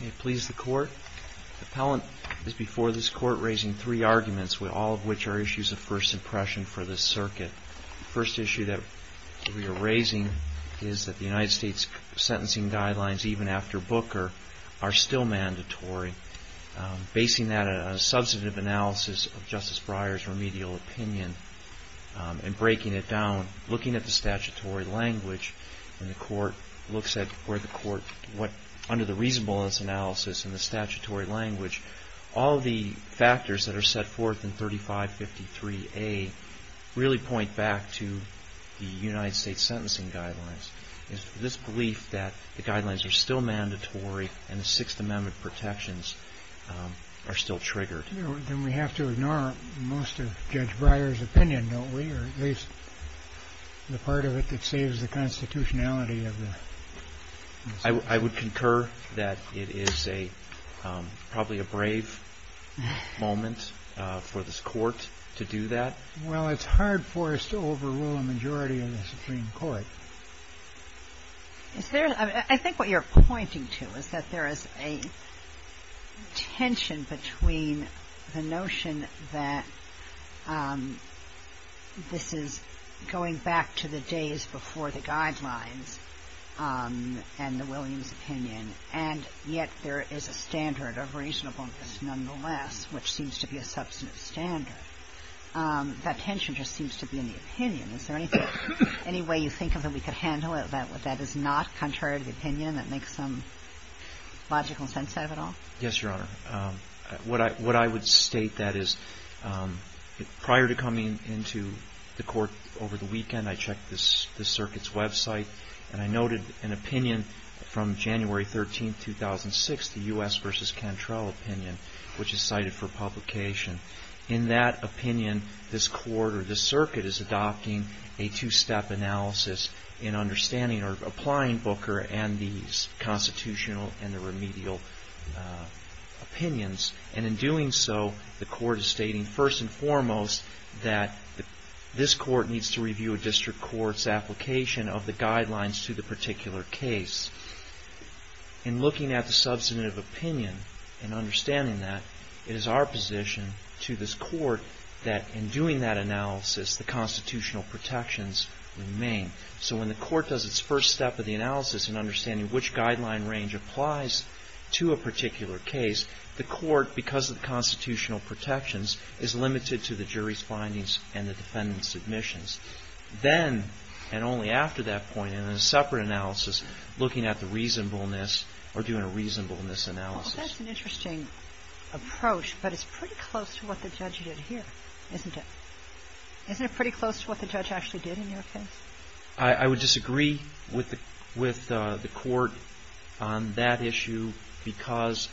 May it please the Court, the Appellant is before this Court raising three arguments, all of which are issues of first impression for this Circuit. The first issue that we are raising is that the United States sentencing guidelines, even after Booker, are still mandatory, basing that on a substantive analysis of Justice Breyer's remedial opinion and breaking it into statutory language, all of the factors that are set forth in 3553A really point back to the United States sentencing guidelines. This belief that the guidelines are still mandatory and the Sixth Amendment protections are still triggered. Then we have to ignore most of Judge Breyer's opinion, don't we, or at least the part of it that saves the constitutionality of the... I would concur that it is probably a brave moment for this Court to do that. Well, it's hard for us to overrule a majority of the Supreme Court. I think what you're pointing to is that there is a tension between the notion that this is going back to the days before the guidelines and the Williams opinion, and yet there is a standard of reasonableness nonetheless, which seems to be a substantive standard. That tension just seems to be in the opinion. Is there any way you think of that we could handle it that is not contrary to the opinion, that makes some logical sense out of it all? Yes, Your Honor. What I would state, that is, prior to coming into the Court over the weekend, I checked the circuit's website, and I noted an opinion from January 13, 2006, the U.S. v. Cantrell opinion, which is cited for publication. In that opinion, this Court or this circuit is adopting a two-step analysis in understanding or applying Booker and these constitutional and the remedial opinions. And in doing so, the Court is stating, first and foremost, that this Court needs to review a district court's application of the guidelines to the particular case. In looking at the substantive opinion and understanding that, it is our position to this Court that in doing that analysis, the constitutional protections remain. So when the Court does its first step of the analysis in understanding which guideline range applies to a particular case, the Court, because of the constitutional protections, is limited to the jury's findings and the defendant's submissions. Then, and only after that point, in a separate analysis, looking at the reasonableness or doing a reasonableness analysis. Well, that's an interesting approach, but it's pretty close to what the judge did here, isn't it? Isn't it pretty close to what the judge actually did in your case? I would disagree with the Court on that issue because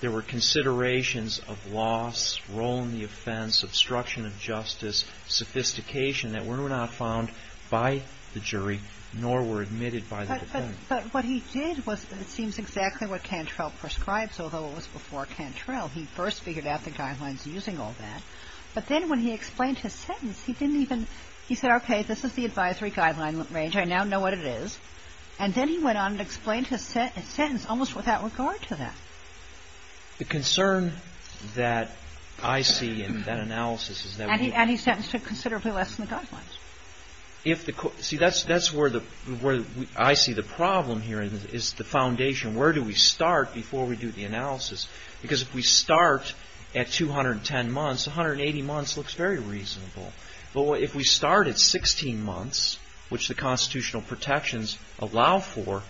there were considerations of loss, role in the offense, obstruction of justice, sophistication that were not found by the jury, nor were admitted by the defendant. But what he did was, it seems exactly what Cantrell prescribes, although it was before Cantrell, he first figured out the guidelines using all that. But then when he explained his sentence, he didn't even, he said, okay, this is the advisory guideline range, I now know what it is. And then he went on and explained his sentence almost without regard to that. The concern that I see in that analysis is that we And he sentenced to considerably less than the guidelines. See, that's where I see the problem here is the foundation. Where do we start before we do the analysis? Because if we start at 210 months, 180 months looks very reasonable. But if we start at 16 months, which the constitutional protections allow for,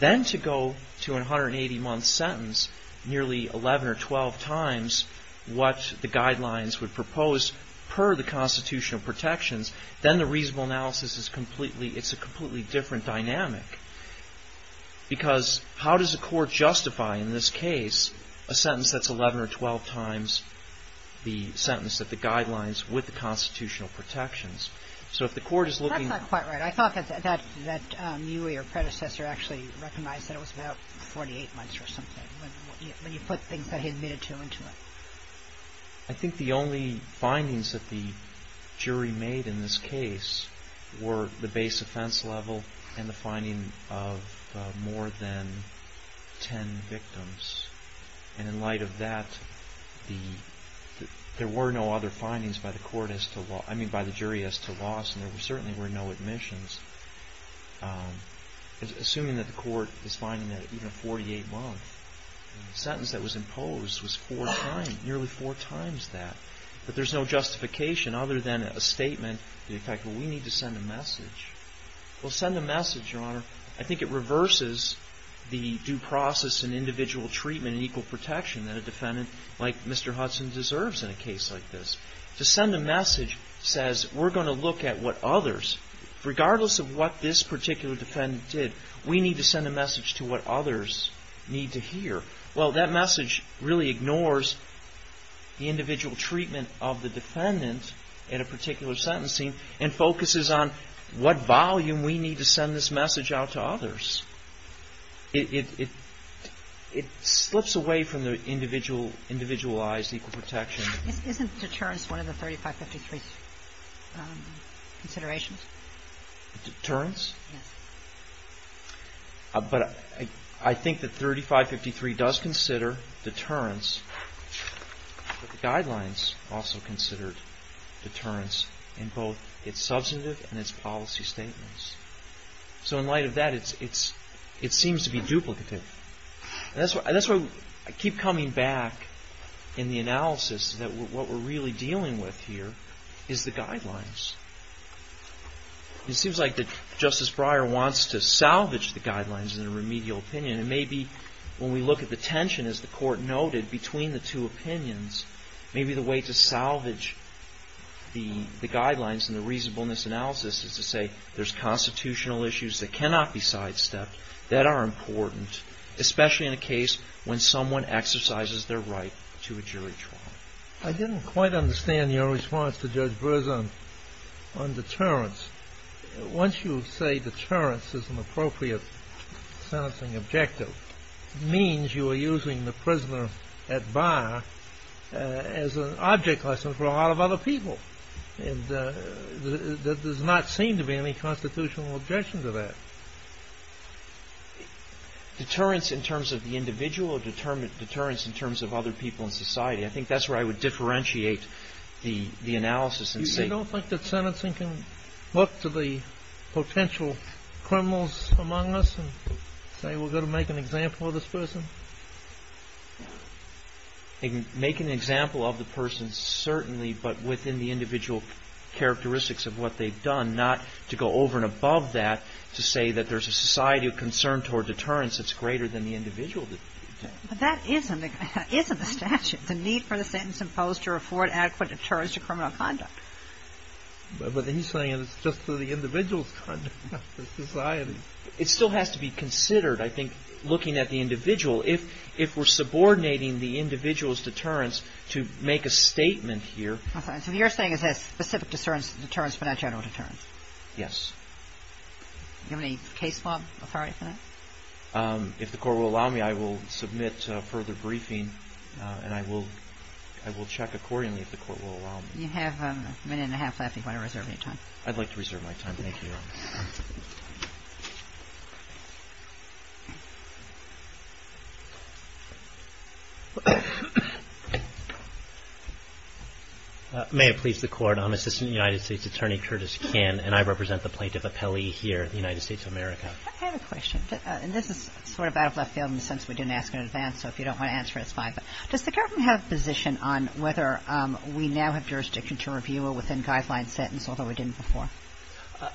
then to go to an 180 month sentence, nearly 11 or 12 times what the guidelines would propose per the constitutional protections, then the reasonable analysis is completely, it's a completely different dynamic. Because how does a court justify in this case a sentence that's 11 or 12 times the sentence that the guidelines with the constitutional protections? So if the court is looking That's not quite right. I thought that you or your predecessor actually recognized that it was about 48 months or something when you put things that he admitted to into it. I think the only findings that the jury made in this case were the base offense level and the finding of more than 10 victims. And in light of that, there were no other findings by the court as to, I mean, by the court's findings, assuming that the court is finding that even a 48-month sentence that was imposed was four times, nearly four times that. But there's no justification other than a statement that in fact, well, we need to send a message. Well, send a message, Your Honor. I think it reverses the due process and individual treatment and equal protection that a defendant like Mr. Hudson deserves in a case like this. To send a message that says we're going to look at what others, regardless of what this particular defendant did, we need to send a message to what others need to hear. Well, that message really ignores the individual treatment of the defendant in a particular sentencing and focuses on what volume we need to send this message out to others. It slips away from the individualized equal protection. Isn't deterrence one of the 3553 considerations? Deterrence? Yes. But I think that 3553 does consider deterrence, but the guidelines also considered deterrence in both its substantive and its policy statements. So in light of that, it seems to be duplicative. That's why I keep coming back in the analysis that what we're really dealing with here is the guidelines. It seems like that Justice Breyer wants to salvage the guidelines in a remedial opinion. And maybe when we look at the tension, as the court noted, between the two opinions, maybe the way to salvage the guidelines and the reasonableness analysis is to say there's constitutional issues that cannot be sidestepped that are important, especially in a case when someone exercises their right to a jury trial. I didn't quite understand your response to Judge Breyer on deterrence. Once you say deterrence is an appropriate sentencing objective, it means you are using the prisoner at bar as an object lesson for a lot of other people. And there does not seem to be any constitutional objection to that. Deterrence in terms of the individual, deterrence in terms of other people in society. I think that's where I would differentiate the analysis. You don't think that sentencing can look to the potential criminals among us and say we're going to make an example of this person? Make an example of the person certainly, but within the individual characteristics of what they've done, not to go over and above that to say that there's a society of concern toward deterrence that's greater than the individual. But that isn't the statute. The need for the sentence imposed to afford adequate deterrence to criminal conduct. But then you're saying it's just for the individual's conduct, not for society. It still has to be considered, I think, looking at the individual. If we're subordinating the individual's deterrence to make a statement here. So you're saying it's a specific deterrence, but not general deterrence? Yes. Do you have any case law authority for that? If the Court will allow me, I will submit further briefing, and I will check accordingly if the Court will allow me. You have a minute and a half left if you want to reserve any time. I'd like to reserve my time. Thank you, Your Honor. May it please the Court, I'm Assistant United States Attorney Curtis Kahn, and I represent the Plaintiff Appellee here at the United States of America. I have a question. And this is sort of out of left field in the sense we didn't ask in advance, so if you don't want to answer it, it's fine. But does the government have a position on whether we now have jurisdiction to review a within-guideline sentence, although we didn't before?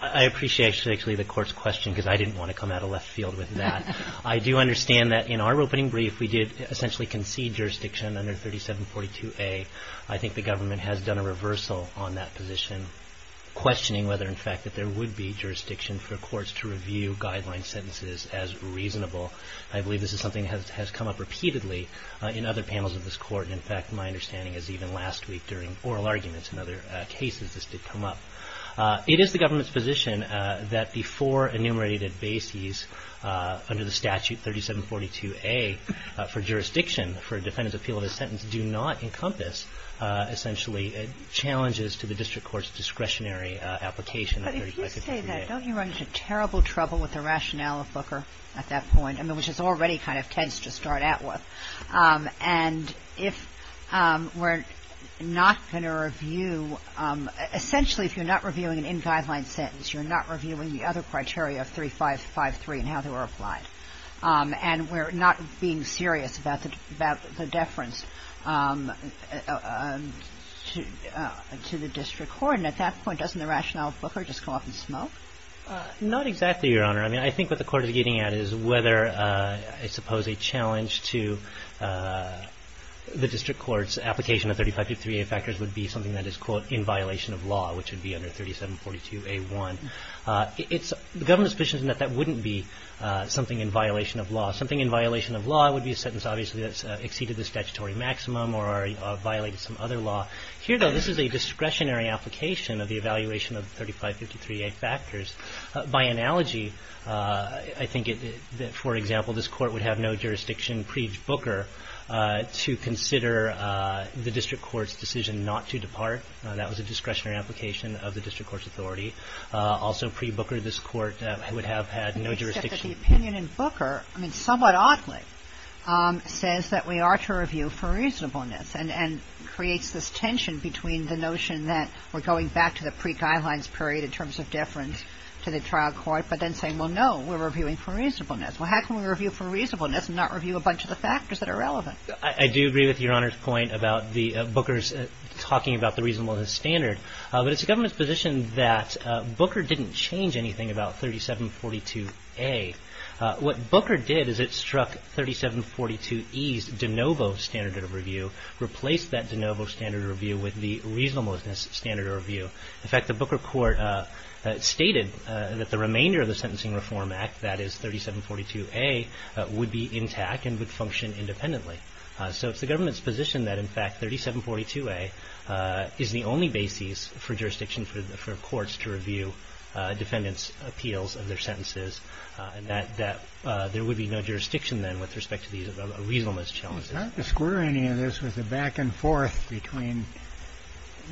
I appreciate, actually, the Court's question, because I didn't want to come out of left field with that. I do understand that in our opening brief, we did essentially concede jurisdiction under 3742A. I think the government has done a reversal on that position, questioning whether, in fact, that there would be jurisdiction for courts to review guideline sentences as reasonable. I believe this is something that has come up repeatedly in other panels of this Court. In fact, my understanding is even last week during oral arguments and other cases this did come up. It is the government's position that the four enumerated bases under the statute 3742A for jurisdiction for a defendant's appeal of a sentence do not encompass, essentially, challenges to the district court's discretionary application of 3742A. But if you say that, don't you run into terrible trouble with the rationale of Booker at that point? I mean, which is already kind of tense to start out with. And if we're not going to review — essentially, if you're not reviewing an in-guideline sentence, you're not reviewing the other criteria of 3553 and how they were applied, and we're not being serious about the deference to the district court, and at that point doesn't the rationale of Booker just go up in smoke? Not exactly, Your Honor. I mean, I think what the Court is getting at is whether, I suppose, a challenge to the district court's application of 3553A factors would be something that is, quote, in violation of law, which would be under 3742A1. It's the government's position that that wouldn't be something in violation of law. Something in violation of law would be a sentence, obviously, that's exceeded the statutory maximum or violated some other law. Here, though, this is a discretionary application of the evaluation of 3553A factors. By analogy, I think, for example, this Court would have no jurisdiction pre-Booker to consider the district court's decision not to depart. That was a discretionary application of the district court's authority. Also pre-Booker, this Court would have had no jurisdiction. But the opinion in Booker, I mean, somewhat oddly, says that we are to review for reasonableness and creates this tension between the notion that we're going back to the pre-Guidelines period in terms of deference to the trial court, but then saying, well, no, we're reviewing for reasonableness. Well, how can we review for reasonableness and not review a bunch of the factors that are relevant? I do agree with Your Honor's point about the Booker's talking about the reasonableness standard. But it's the government's position that Booker didn't change anything about 3742A. What Booker did is it struck 3742E's de novo standard of review, replaced that de novo standard of review with the reasonableness standard of review. In fact, the Booker Court stated that the remainder of the Sentencing Reform Act, that is 3742A, would be intact and would function independently. So it's the government's position that, in fact, 3742A is the only basis for jurisdiction for courts to review defendants' appeals of their sentences, that there would be no jurisdiction then with respect to these reasonableness challenges. I'd like to square any of this with the back and forth between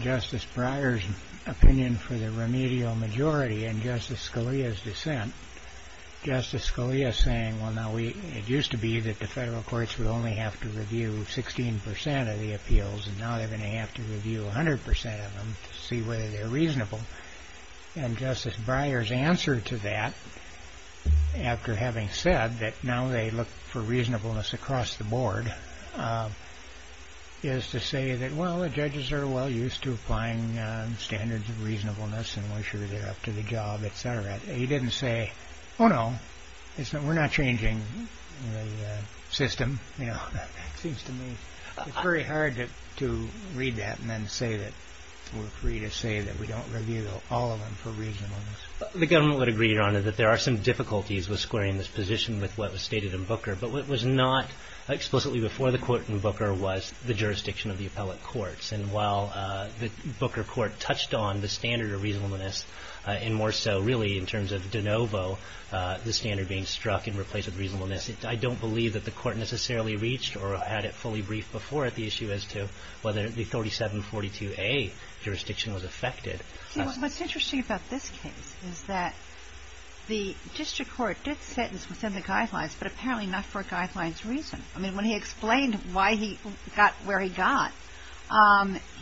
Justice Breyer's opinion for the remedial majority and Justice Scalia's dissent. Justice Scalia is saying, well, now, it used to be that the federal courts would only have to review 16% of the appeals, and now they're going to have to review 100% of them to see whether they're reasonable. And Justice Breyer's answer to that, after having said that now they look for reasonableness across the board, is to say that, well, the judges are well used to applying standards of reasonableness, and we're sure they're up to the job, et cetera. He didn't say, oh, no, we're not changing the system. It seems to me it's very hard to read that and then say that we're free to say that we don't review all of them for reasonableness. The government would agree, Your Honor, that there are some difficulties with squaring this position with what was stated in Booker. But what was not explicitly before the court in Booker was the jurisdiction of the appellate courts. And while the Booker court touched on the standard of reasonableness, and more so, really, in terms of de novo, the standard being struck and replaced with reasonableness, I don't believe that the Court necessarily reached or had it fully briefed before at the issue as to whether the 3742A jurisdiction was affected. See, what's interesting about this case is that the district court did sentence within the guidelines, but apparently not for guidelines reason. I mean, when he explained why he got where he got,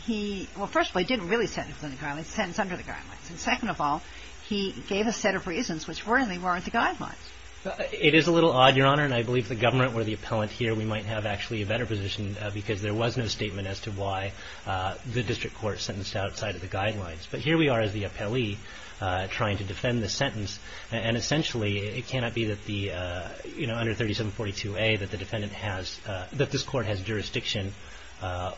he – well, first of all, he didn't really sentence within the guidelines. He sentenced under the guidelines. And second of all, he gave a set of reasons which really weren't the guidelines. It is a little odd, Your Honor, and I believe if the government were the appellant here, we might have actually a better position because there was no statement as to why the district court sentenced outside of the guidelines. But here we are as the appellee trying to defend the sentence. And essentially, it cannot be that the – you know, under 3742A, that the defendant has – that this Court has jurisdiction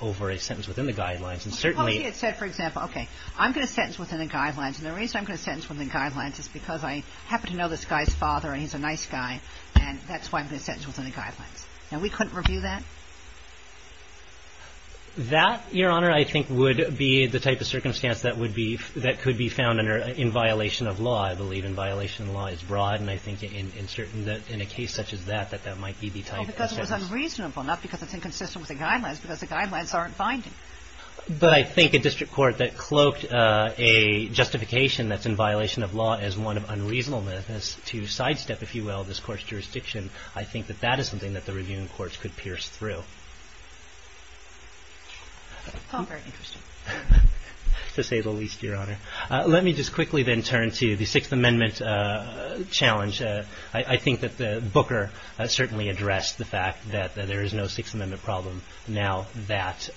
over a sentence within the guidelines. And certainly – Well, he had said, for example, okay, I'm going to sentence within the guidelines. And the reason I'm going to sentence within the guidelines is because I happen to know this guy's father, and he's a nice guy, and that's why I'm going to sentence within the guidelines. Now, we couldn't review that? That, Your Honor, I think would be the type of circumstance that would be – that could be found under – in violation of law. I believe in violation of law is broad, and I think in certain – in a case such as that, that that might be the type of sentence. Well, because it was unreasonable, not because it's inconsistent with the guidelines, because the guidelines aren't binding. But I think a district court that cloaked a justification that's in violation of law as one of unreasonableness to sidestep, if you will, this Court's jurisdiction, I think that that is something that the reviewing courts could pierce through. Tom, very interesting. To say the least, Your Honor. Let me just quickly then turn to the Sixth Amendment challenge. I think that the Booker certainly addressed the fact that there is no Sixth Amendment problem now that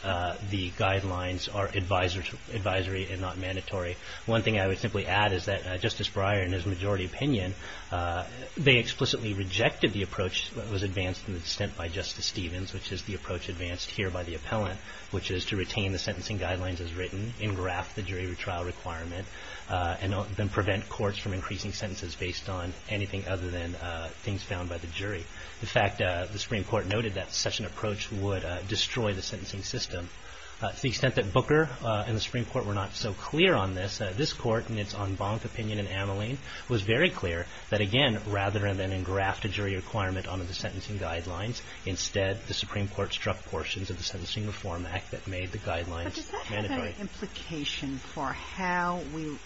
the guidelines are advisory and not mandatory. One thing I would simply add is that Justice Breyer, in his majority opinion, they explicitly rejected the approach that was advanced in the dissent by Justice Stevens, which is the approach advanced here by the appellant, which is to retain the sentencing guidelines as written, engraft the jury retrial requirement, and then prevent courts from increasing sentences based on anything other than things found by the jury. In fact, the Supreme Court noted that such an approach would destroy the sentencing system. To the extent that Booker and the Supreme Court were not so clear on this, this Court in its en banc opinion in Ameline was very clear that, again, rather than engraft a jury requirement on the sentencing guidelines, instead the Supreme Court struck portions of the Sentencing Reform Act that made the guidelines mandatory. But does that have an implication for how we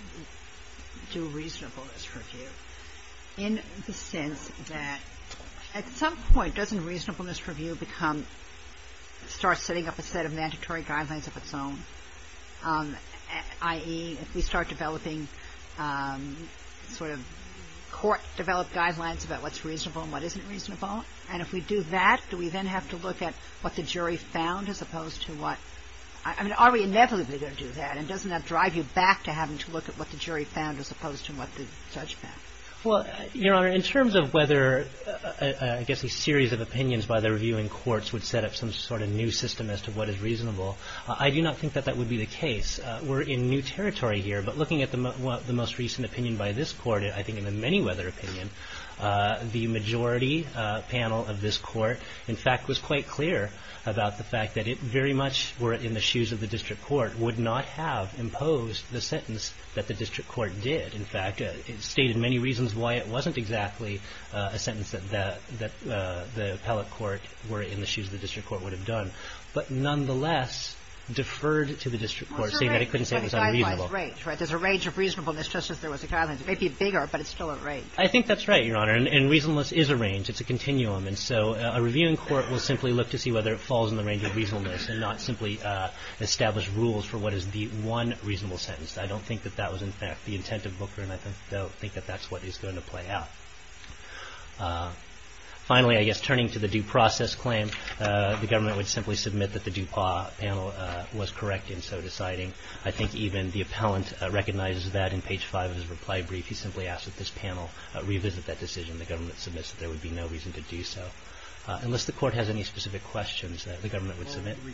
do reasonableness review in the sense that at some point doesn't reasonableness review become – start setting up a set of mandatory guidelines of its own, i.e., if we start developing sort of court-developed guidelines about what's reasonable and what isn't reasonable? And if we do that, do we then have to look at what the jury found as opposed to what – I mean, are we inevitably going to do that? And doesn't that drive you back to having to look at what the jury found as opposed to what the judge found? Well, Your Honor, in terms of whether I guess a series of opinions by the reviewing courts would set up some sort of new system as to what is reasonable, I do not think that that would be the case. We're in new territory here, but looking at the most recent opinion by this Court, I think in the many-weather opinion, the majority panel of this Court, in fact, was quite clear about the fact that it very much were in the shoes of the district court, would not have imposed the sentence that the district court did. In fact, it stated many reasons why it wasn't exactly a sentence that the appellate court were in the shoes of the district court would have done, but nonetheless deferred to the district court, saying that it couldn't say it was unreasonable. There's a range of reasonableness, just as there was a guidelines. It may be bigger, but it's still a range. I think that's right, Your Honor. And reasonableness is a range. It's a continuum. And so a reviewing court will simply look to see whether it falls in the range of reasonableness and not simply establish rules for what is the one reasonable sentence. I don't think that that was, in fact, the intent of Booker, and I don't think that that's what is going to play out. Finally, I guess, turning to the due process claim, the government would simply submit that the DuPont panel was correct in so deciding. I think even the appellant recognizes that in page 5 of his reply brief. He simply asked that this panel revisit that decision. The government submits that there would be no reason to do so, unless the court has any specific questions that the government would submit. Well,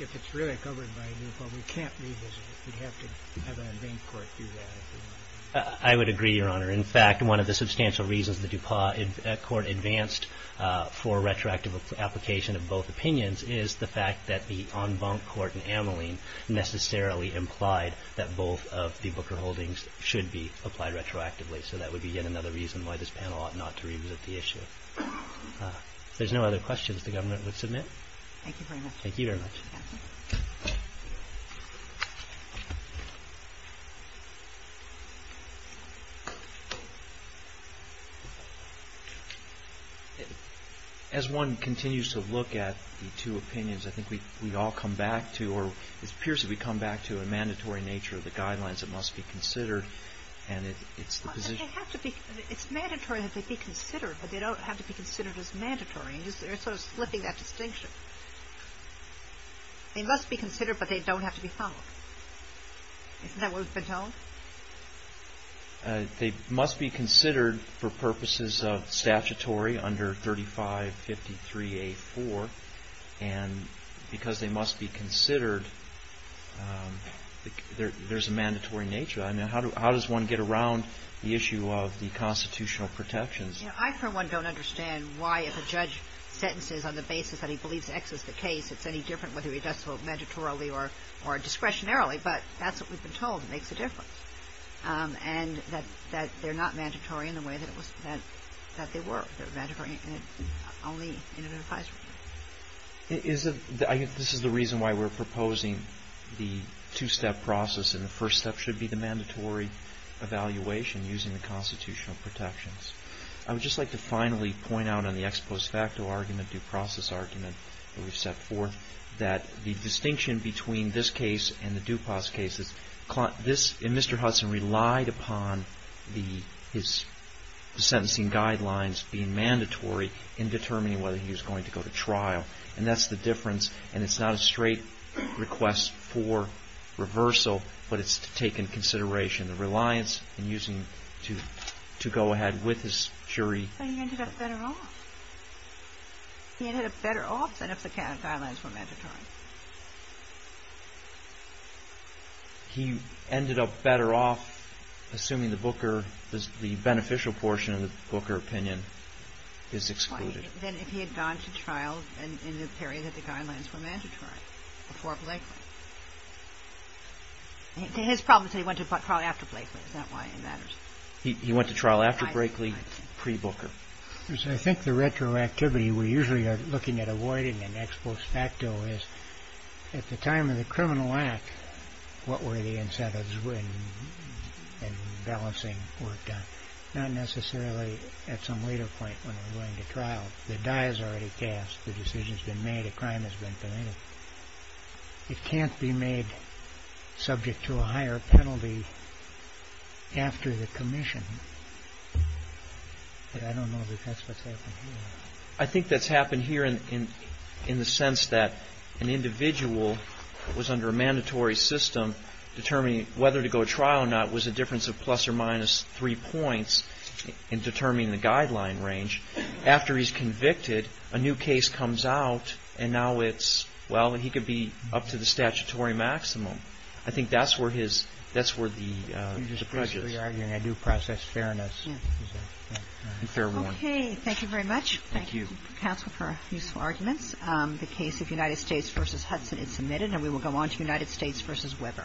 if it's really covered by DuPont, we can't revisit it. We'd have to have an in vain court do that. I would agree, Your Honor. In fact, one of the substantial reasons the DuPont court advanced for retroactive application of both opinions is the fact that the en banc court in Ameline necessarily implied that both of the Booker holdings should be applied retroactively. So that would be yet another reason why this panel ought not to revisit the issue. If there's no other questions, the government would submit. Thank you very much. Thank you very much. Thank you, counsel. As one continues to look at the two opinions, I think we all come back to or it appears that we come back to a mandatory nature of the guidelines that must be considered, and it's the position... They have to be... It's mandatory that they be considered, but they don't have to be considered as mandatory. They're sort of slipping that distinction. They must be considered, but they don't have to be followed. Isn't that what we've been told? They must be considered for purposes of statutory under 3553A4, and because they must be considered, there's a mandatory nature. I mean, how does one get around the issue of the constitutional protections? I, for one, don't understand why if a judge sentences on the basis that he believes X is the case, it's any different whether he does so mandatorily or discretionarily, but that's what we've been told. It makes a difference. And that they're not mandatory in the way that they were. They're mandatory only in an advisory. This is the reason why we're proposing the two-step process, and the first step should be the mandatory evaluation using the constitutional protections. I would just like to finally point out on the ex post facto argument, due process argument, that we've set forth, that the distinction between this case and the DuPas cases, and Mr. Hudson relied upon his sentencing guidelines being mandatory in determining whether he was going to go to trial. And that's the difference, and it's not a straight request for reversal, but it's to take into consideration the reliance in using to go ahead with his jury. But he ended up better off. He ended up better off than if the guidelines were mandatory. He ended up better off, assuming the beneficial portion of the Booker opinion is excluded. Than if he had gone to trial in the period that the guidelines were mandatory, before Blakely. His problem is that he went to trial after Blakely. That's not why it matters. He went to trial after Blakely, pre-Booker. I think the retroactivity we're usually looking at avoiding in ex post facto is, at the time of the criminal act, what were the incentives and balancing work done? Not necessarily at some later point when we're going to trial. The die is already cast. The decision has been made. A crime has been committed. It can't be made subject to a higher penalty after the commission. But I don't know if that's what's happened here. I think that's happened here in the sense that an individual was under a mandatory system, determining whether to go to trial or not was a difference of plus or minus three points in determining the guideline range. After he's convicted, a new case comes out, and now it's, well, he could be up to the statutory maximum. I think that's where the prejudice is. I do process fairness. Fair warning. Okay. Thank you very much. Thank you. Thank you, counsel, for your useful arguments. The case of United States v. Hudson is submitted, and we will go on to United States v. Weber. Thank you.